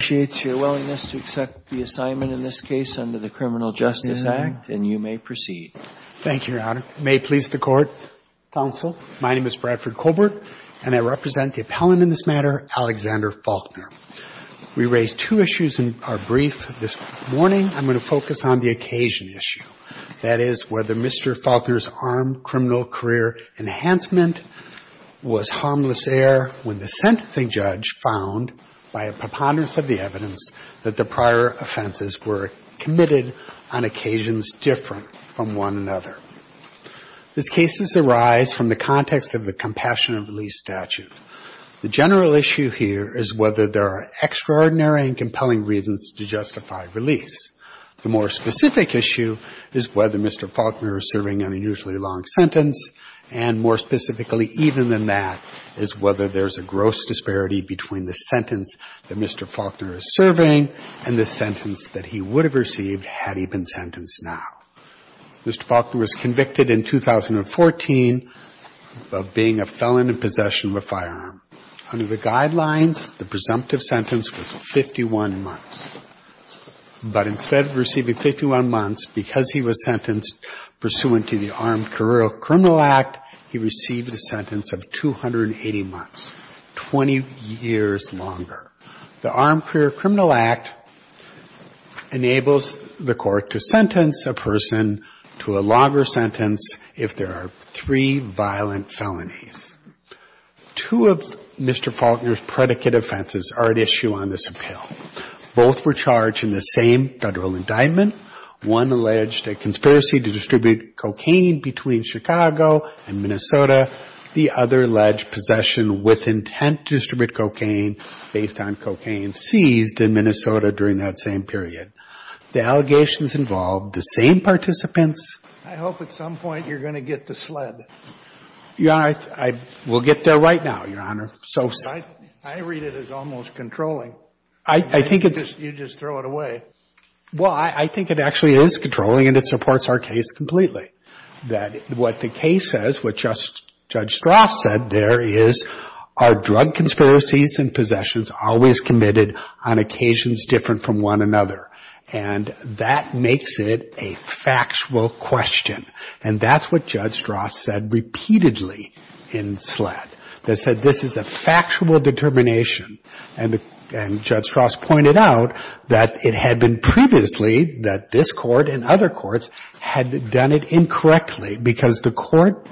appreciates your willingness to accept the assignment in this case under the Criminal Justice Act, and you may proceed. Thank you, Your Honor. May it please the Court, counsel, my name is Bradford Colbert and I represent the appellant in this matter, Alexander Faulkner. We raised two issues in our brief this morning. I'm going to focus on the occasion issue, that is, whether Mr. Faulkner's armed criminal career enhancement was harmless error when the sentencing judge found, by a preponderance of the evidence, that the prior offenses were committed on occasions different from one another. These cases arise from the context of the compassionate release statute. The general issue here is whether there are extraordinary and compelling reasons to justify release. The more specific issue is whether Mr. Faulkner is serving an unusually long sentence, and more specifically, even than that, is whether there's a gross disparity between the sentence that Mr. Faulkner is serving and the sentence that he would have received had he been sentenced now. Mr. Faulkner was convicted in 2014 of being a felon in possession of a firearm. Under the guidelines, the presumptive sentence was 51 months. But instead of receiving 51 months because he was sentenced pursuant to the Armed Career Criminal Act, he received a sentence of 280 months, 20 years longer. The Armed Career Criminal Act enables the Court to sentence a person to a longer sentence if there are three violent felonies. Two of Mr. Faulkner's predicate offenses are at issue on this appeal. Both were charged in the same Federal indictment. One alleged a conspiracy to distribute cocaine between Chicago and Minnesota. The other alleged possession with intent to distribute cocaine based on cocaine seized in Minnesota during that same period. The allegations involved the same participants as those of Mr. Faulkner. I hope at some point you're going to get the sled. Your Honor, I will get there right now, Your Honor. I read it as almost controlling. I think it's You just throw it away. Well, I think it actually is controlling and it supports our case completely. That what the case says, what Judge Strass said there is, are drug conspiracies and possessions always committed on occasions different from one another? And that makes it a factual question. And that's what Judge Strass said repeatedly in sled. That said, this is a factual determination. And Judge Strass pointed out that it had been previously that this Court and other courts had done it incorrectly because the Court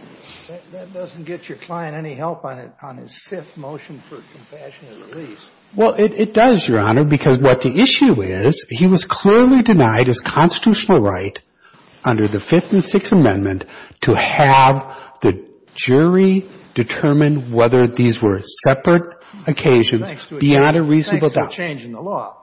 That doesn't get your client any help on his fifth motion for compassionate release. Well, it does, Your Honor, because what the issue is, he was clearly denied his constitutional right under the Fifth and Sixth Amendment to have the jury determine whether these were separate occasions beyond a reasonable doubt. Thanks to a change in the law.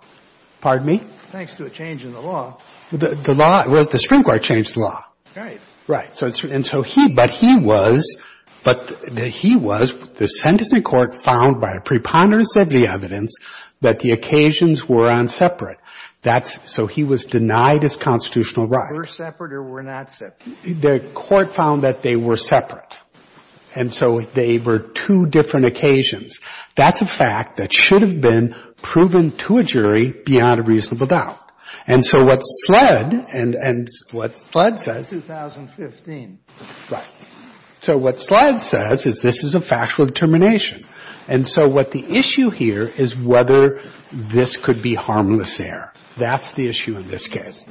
Pardon me? Thanks to a change in the law. The law, the Supreme Court changed the law. Right. Right. And so he, but he was, but he was, the sentencing court found by a preponderance of the evidence that the occasions were on separate. That's, so he was denied his constitutional right. Were separate or were not separate? The Court found that they were separate. And so they were two different occasions. That's a fact that should have been proven to a jury beyond a reasonable doubt. And so what sled, and, and what sled says It's 2015. Right. So what sled says is this is a factual determination. And so what the issue here is whether this could be harmless error. That's the issue in this case.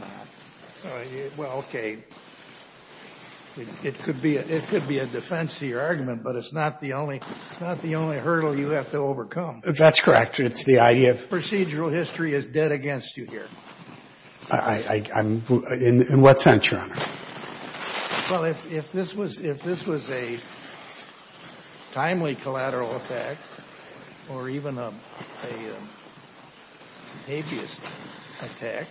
Well, okay. It could be a, it could be a defense to your argument, but it's not the only, it's not the only hurdle you have to overcome. That's correct. It's the idea of Procedural history is dead against you here. I, I, I'm, in what sense, Your Honor? Well, if, if this was, if this was a timely collateral attack or even a, a habeas attack,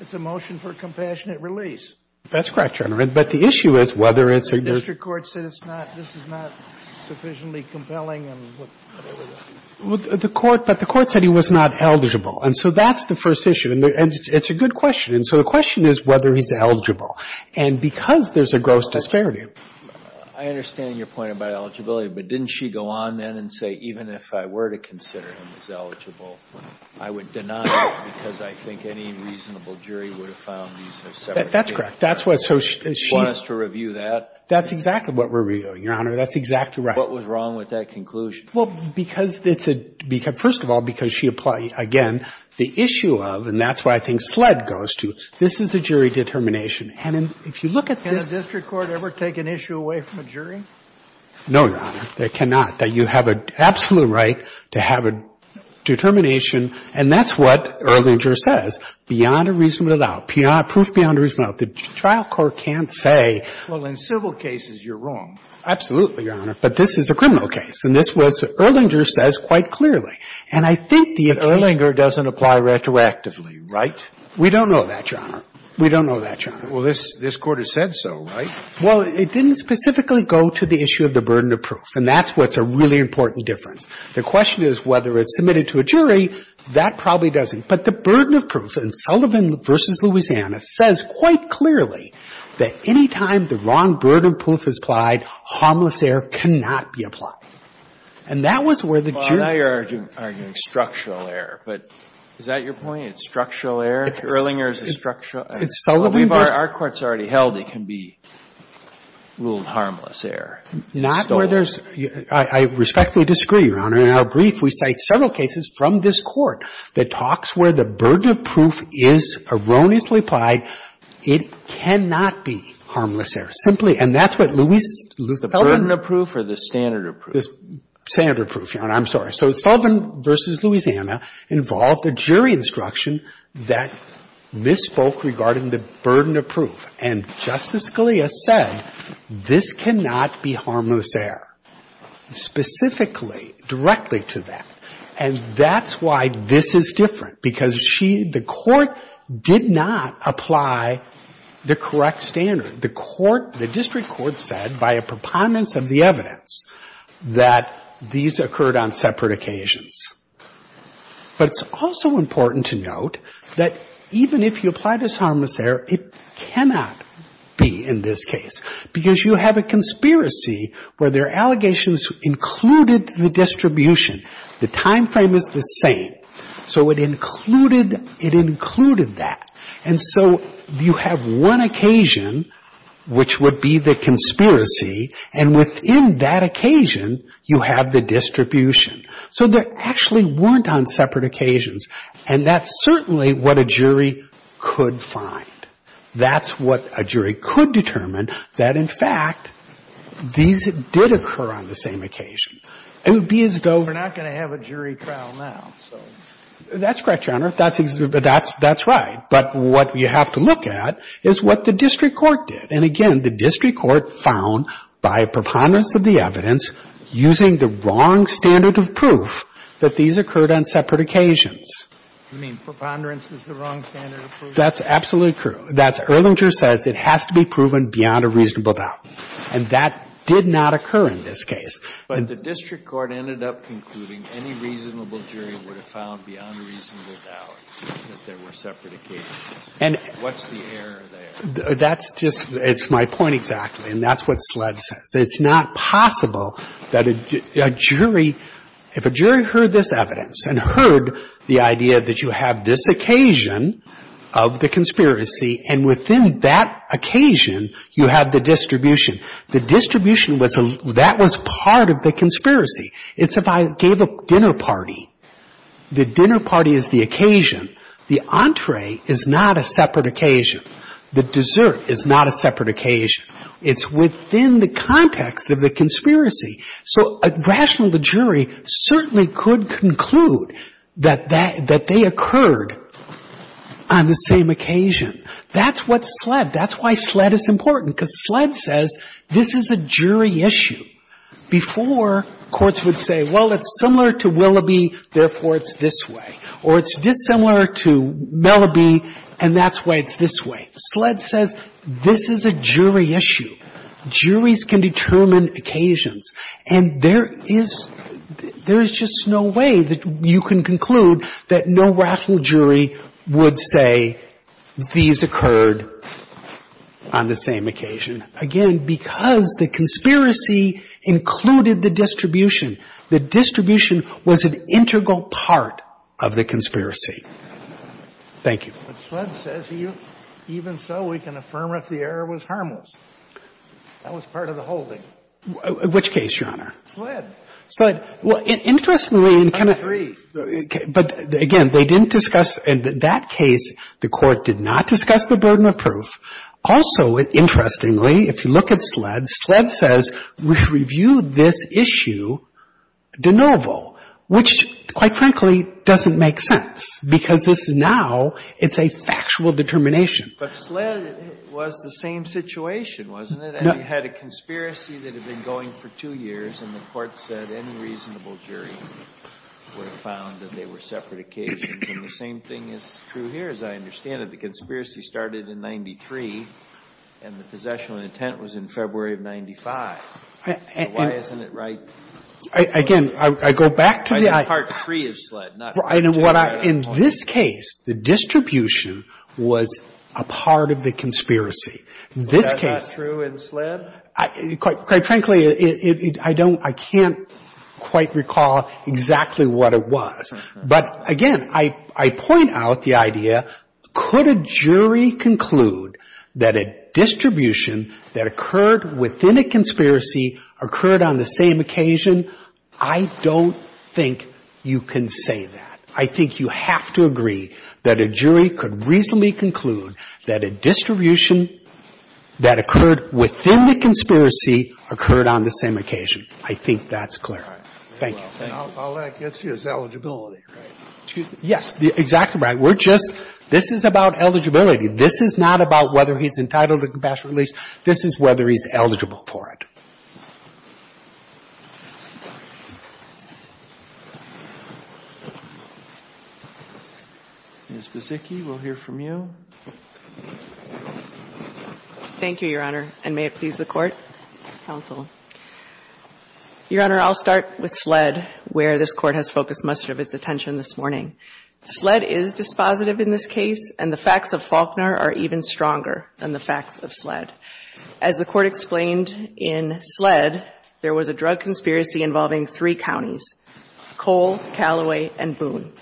it's a motion for compassionate release. That's correct, Your Honor. But the issue is whether it's a The district court said it's not, this is not sufficiently compelling and whatever the The court, but the court said he was not eligible. And so that's the first issue. And it's a good question. And so the question is whether he's eligible. And because there's a gross disparity I understand your point about eligibility. But didn't she go on then and say, even if I were to consider him as eligible, I would deny it because I think any reasonable jury would have found these That's correct. That's what, so she Want us to review that? That's exactly what we're reviewing, Your Honor. That's exactly right. What was wrong with that conclusion? Well, because it's a, because, first of all, because she applied, again, the issue of, and that's why I think SLED goes to, this is a jury determination. And if you look at this Can a district court ever take an issue away from a jury? No, Your Honor. They cannot. That you have an absolute right to have a determination, and that's what Erlinger says. Beyond a reasonable doubt. Proof beyond a reasonable doubt. The trial court can't say Well, in civil cases, you're wrong. Absolutely, Your Honor. But this is a criminal case. And this was, Erlinger says quite clearly. And I think the Erlinger doesn't apply retroactively, right? We don't know that, Your Honor. We don't know that, Your Honor. Well, this Court has said so, right? Well, it didn't specifically go to the issue of the burden of proof. And that's what's a really important difference. The question is whether it's submitted to a jury. That probably doesn't. But the burden of proof in Sullivan v. Louisiana says quite clearly that any time the wrong burden of proof is applied, harmless error cannot be applied. And that was where the jury Now you're arguing structural error. But is that your point? It's structural error? Erlinger is a structural? It's Sullivan v. Our Court's already held it can be ruled harmless error. Not where there's – I respectfully disagree, Your Honor. In our brief, we cite several cases from this Court that talks where the burden of proof is erroneously applied. It cannot be harmless error. Simply – and that's what Louise Sullivan The burden of proof or the standard of proof? The standard of proof, Your Honor. I'm sorry. So Sullivan v. Louisiana involved a jury instruction that misspoke regarding the burden of proof. And Justice Scalia said this cannot be harmless error. Specifically, directly to that. And that's why this is different. Because she – the Court did not apply the correct standard. The District Court said, by a preponderance of the evidence, that these occurred on separate occasions. But it's also important to note that even if you apply this harmless error, it cannot be in this case. Because you have a conspiracy where there are allegations included in the distribution. The time frame is the same. So it included that. And so you have one occasion, which would be the conspiracy, and within that occasion, you have the distribution. So they actually weren't on separate occasions. And that's certainly what a jury could find. That's what a jury could determine, that in fact, these did occur on the same occasion. It would be as though We're not going to have a jury trial now. That's correct, Your Honor. That's right. But what you have to look at is what the District Court did. And again, the District Court found, by a preponderance of the evidence, using the wrong standard of proof, that these occurred on separate occasions. You mean preponderance is the wrong standard of proof? That's absolutely true. That's – Erlinger says it has to be proven beyond a reasonable doubt. And that did not occur in this case. But the District Court ended up concluding that any reasonable jury would have found beyond a reasonable doubt that there were separate occasions. And what's the error there? That's just – it's my point exactly. And that's what SLED says. It's not possible that a jury – if a jury heard this evidence and heard the idea that you have this occasion of the conspiracy and within that occasion, you have the distribution, the distribution was – that was part of the conspiracy. It's if I gave a dinner party. The dinner party is the occasion. The entree is not a separate occasion. The dessert is not a separate occasion. It's within the context of the conspiracy. So a rational jury certainly could conclude that they occurred on the same occasion. That's what SLED – that's why SLED is important because SLED says this is a jury issue. Before, courts would say, well, it's similar to Willoughby, therefore it's this way. Or it's dissimilar to Mellaby, and that's why it's this way. SLED says this is a jury issue. Juries can determine occasions. And there is – there is just no way that you can conclude that no rational jury would say these occurred on the same occasion. Again, because the conspiracy included the distribution. The distribution was an integral part of the conspiracy. Thank you. But SLED says even so, we can affirm if the error was harmless. That was part of the holding. Which case, Your Honor? SLED. SLED. Well, interestingly, in kind of – I agree. But again, they didn't discuss – in that case, the Court did not discuss the burden of proof. Also, interestingly, if you look at SLED, SLED says, we've reviewed this issue de novo. Which, quite frankly, doesn't make sense. Because this is now – it's a factual determination. But SLED was the same situation, wasn't it? No. And you had a conspiracy that had been going for two years, and the Court said any reasonable jury would have found that they were separate occasions. And the same thing is true here, as I understand it. The conspiracy started in 93, and the possession of intent was in February of 95. Why isn't it right? Again, I go back to the – Part 3 of SLED, not part 2. In this case, the distribution was a part of the conspiracy. In this case – Was that not true in SLED? Quite frankly, I don't – I can't quite recall exactly what it was. But, again, I point out the idea, could a jury conclude that a distribution that occurred within a conspiracy occurred on the same occasion? I don't think you can say that. I think you have to agree that a jury could reasonably conclude that a distribution that occurred within the conspiracy occurred on the same occasion. I think that's clear. Thank you. All that gets you is eligibility, right? Yes. Exactly right. We're just – this is about eligibility. This is not about whether he's entitled to compassionate release. This is whether he's eligible for it. Ms. Buzicki, we'll hear from you. Thank you, Your Honor. And may it please the Court, counsel. Your Honor, I'll start with SLED, where this Court has focused much of its attention this morning. SLED is dispositive in this case, and the facts of Faulkner are even stronger than the facts of SLED. As the Court explained in SLED, there was a drug conspiracy involving three counties, Cole, Callaway, and Boone.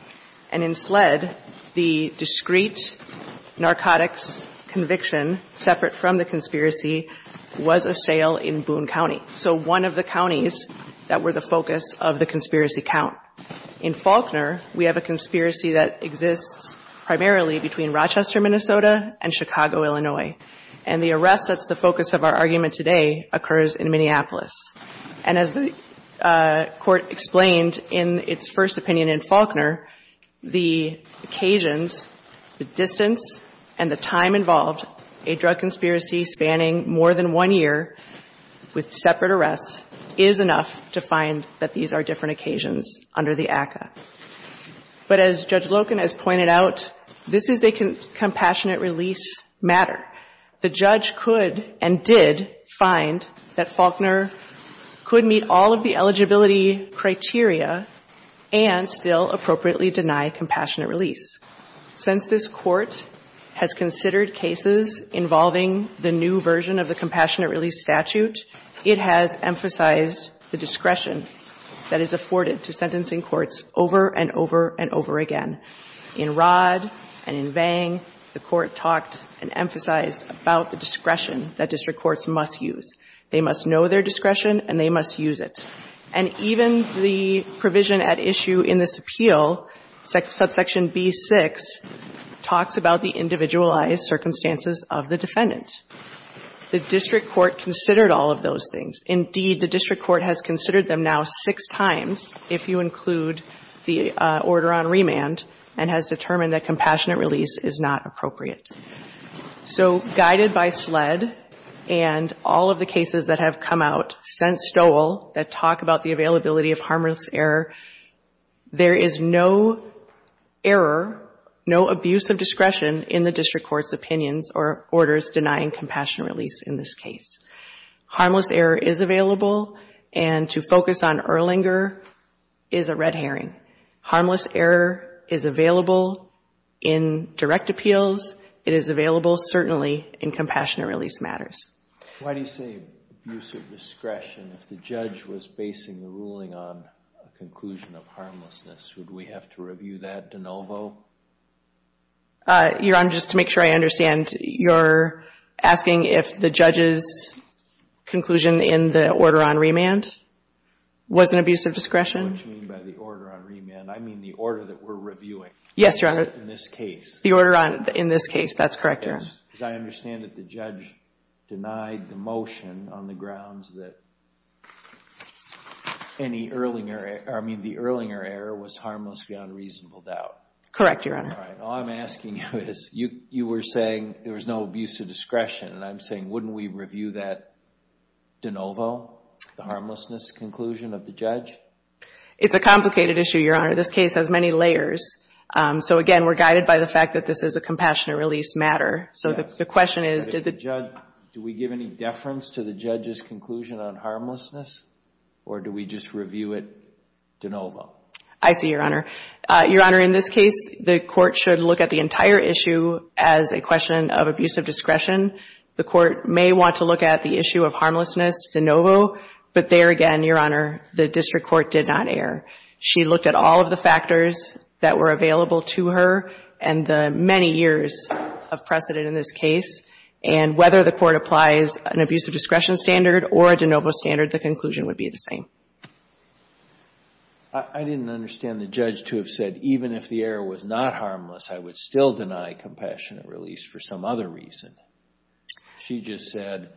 And in SLED, the discrete narcotics conviction, separate from the conspiracy, was a sale in Boone County. So one of the counties that were the focus of the conspiracy count. In Faulkner, we have a conspiracy that exists primarily between Rochester, Minnesota, and Chicago, Illinois. And the arrest that's the focus of our argument today occurs in Minneapolis. And as the Court explained in its first opinion in Faulkner, the occasions, the distance, and the time involved a drug conspiracy spanning more than one year with separate arrests is enough to find that these are different occasions under the ACCA. But as Judge Loken has pointed out, this is a compassionate release matter. The judge could and did find that Faulkner could meet all of the eligibility criteria and still appropriately deny compassionate release. Since this Court has considered cases involving the new version of the compassionate release statute, it has emphasized the discretion that is afforded to sentencing courts over and over and over again. In Rod and in Vang, the Court talked and emphasized about the discretion that district courts must use. They must know their discretion and they must use it. And even the provision at issue in this appeal, subsection B6, talks about the individualized circumstances of the defendant. The district court considered all of those things. Indeed, the district court has considered them now six times, if you include the order on remand, and has determined that compassionate release is not appropriate. So guided by SLED and all of the cases that have come out since Stowell that talk about the availability of harmless error, there is no error, no abuse of discretion in the district court's opinions or orders denying compassionate release in this case. Harmless error is available, and to focus on Erlinger is a red herring. Harmless error is available in direct appeals. It is available, certainly, in compassionate release matters. Why do you say abuse of discretion if the judge was basing the ruling on a conclusion of harmlessness? Would we have to review that de novo? Your Honor, just to make sure I understand, you're asking if the judge's conclusion in the order on remand was an abuse of discretion? What do you mean by the order on remand? I mean the order that we're reviewing. Yes, Your Honor. In this case. In this case, that's correct, Your Honor. Because I understand that the judge denied the motion on the grounds that any Erlinger, I mean the Erlinger error was harmless beyond reasonable doubt. Correct, Your Honor. All right, all I'm asking you is, you were saying there was no abuse of discretion, and I'm saying wouldn't we review that de novo, the harmlessness conclusion of the judge? It's a complicated issue, Your Honor. This case has many layers. So again, we're guided by the fact that this is a compassionate release matter. So the question is, did the judge, do we give any deference to the judge's conclusion on harmlessness? Or do we just review it de novo? I see, Your Honor. Your Honor, in this case, the court should look at the entire issue as a question of abuse of discretion. The court may want to look at the issue of harmlessness de novo, but there again, Your Honor, the district court did not err. She looked at all of the factors that were available to her, and the many years of precedent in this case, and whether the court applies an abuse of discretion standard or a de novo standard, the conclusion would be the same. I didn't understand the judge to have said, even if the error was not harmless, I would still deny compassionate release for some other reason. She just said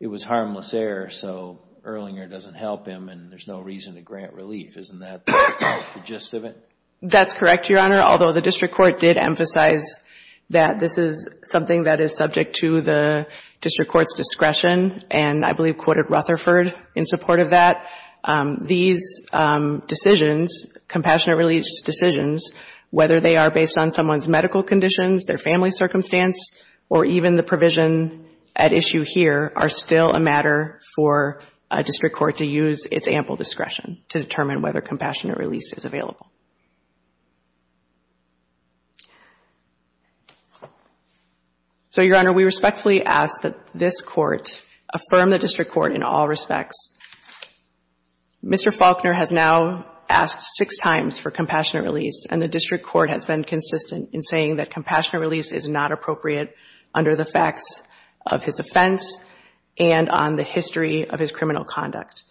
it was harmless error, so Erlinger doesn't help him and there's no reason to grant relief. Isn't that the gist of it? That's correct, Your Honor, although the district court did emphasize that this is something that is subject to the district court's discretion, and I believe quoted Rutherford in support of that. These decisions, compassionate release decisions, whether they are based on someone's medical conditions, their family circumstance, or even the provision at issue here, are still a matter for a district court to use its ample discretion to determine whether compassionate release is available. So, Your Honor, we respectfully ask that this court affirm the district court in all respects. Mr. Faulkner has now asked six times for compassionate release and the district court has been consistent in saying that compassionate release is not appropriate under the facts of his offense and on the history of his criminal conduct.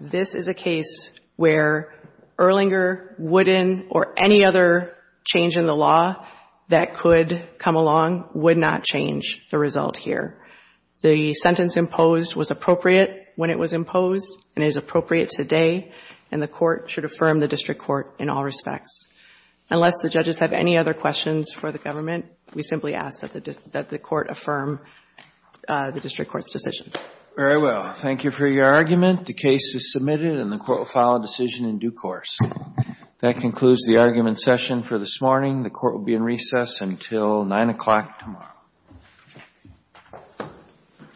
This is a case where Erlinger, Wooden, or any other change in the law that could come along would not change the result here. The sentence imposed was appropriate when it was imposed and is appropriate today, and the court should affirm the district court in all respects. Unless the judges have any other questions for the government, we simply ask that the court affirm the district court's decision. Very well. Thank you for your argument. The case is submitted and the court will follow decision in due course. That concludes the argument session for this morning. The court will be in recess until 9 o'clock tomorrow.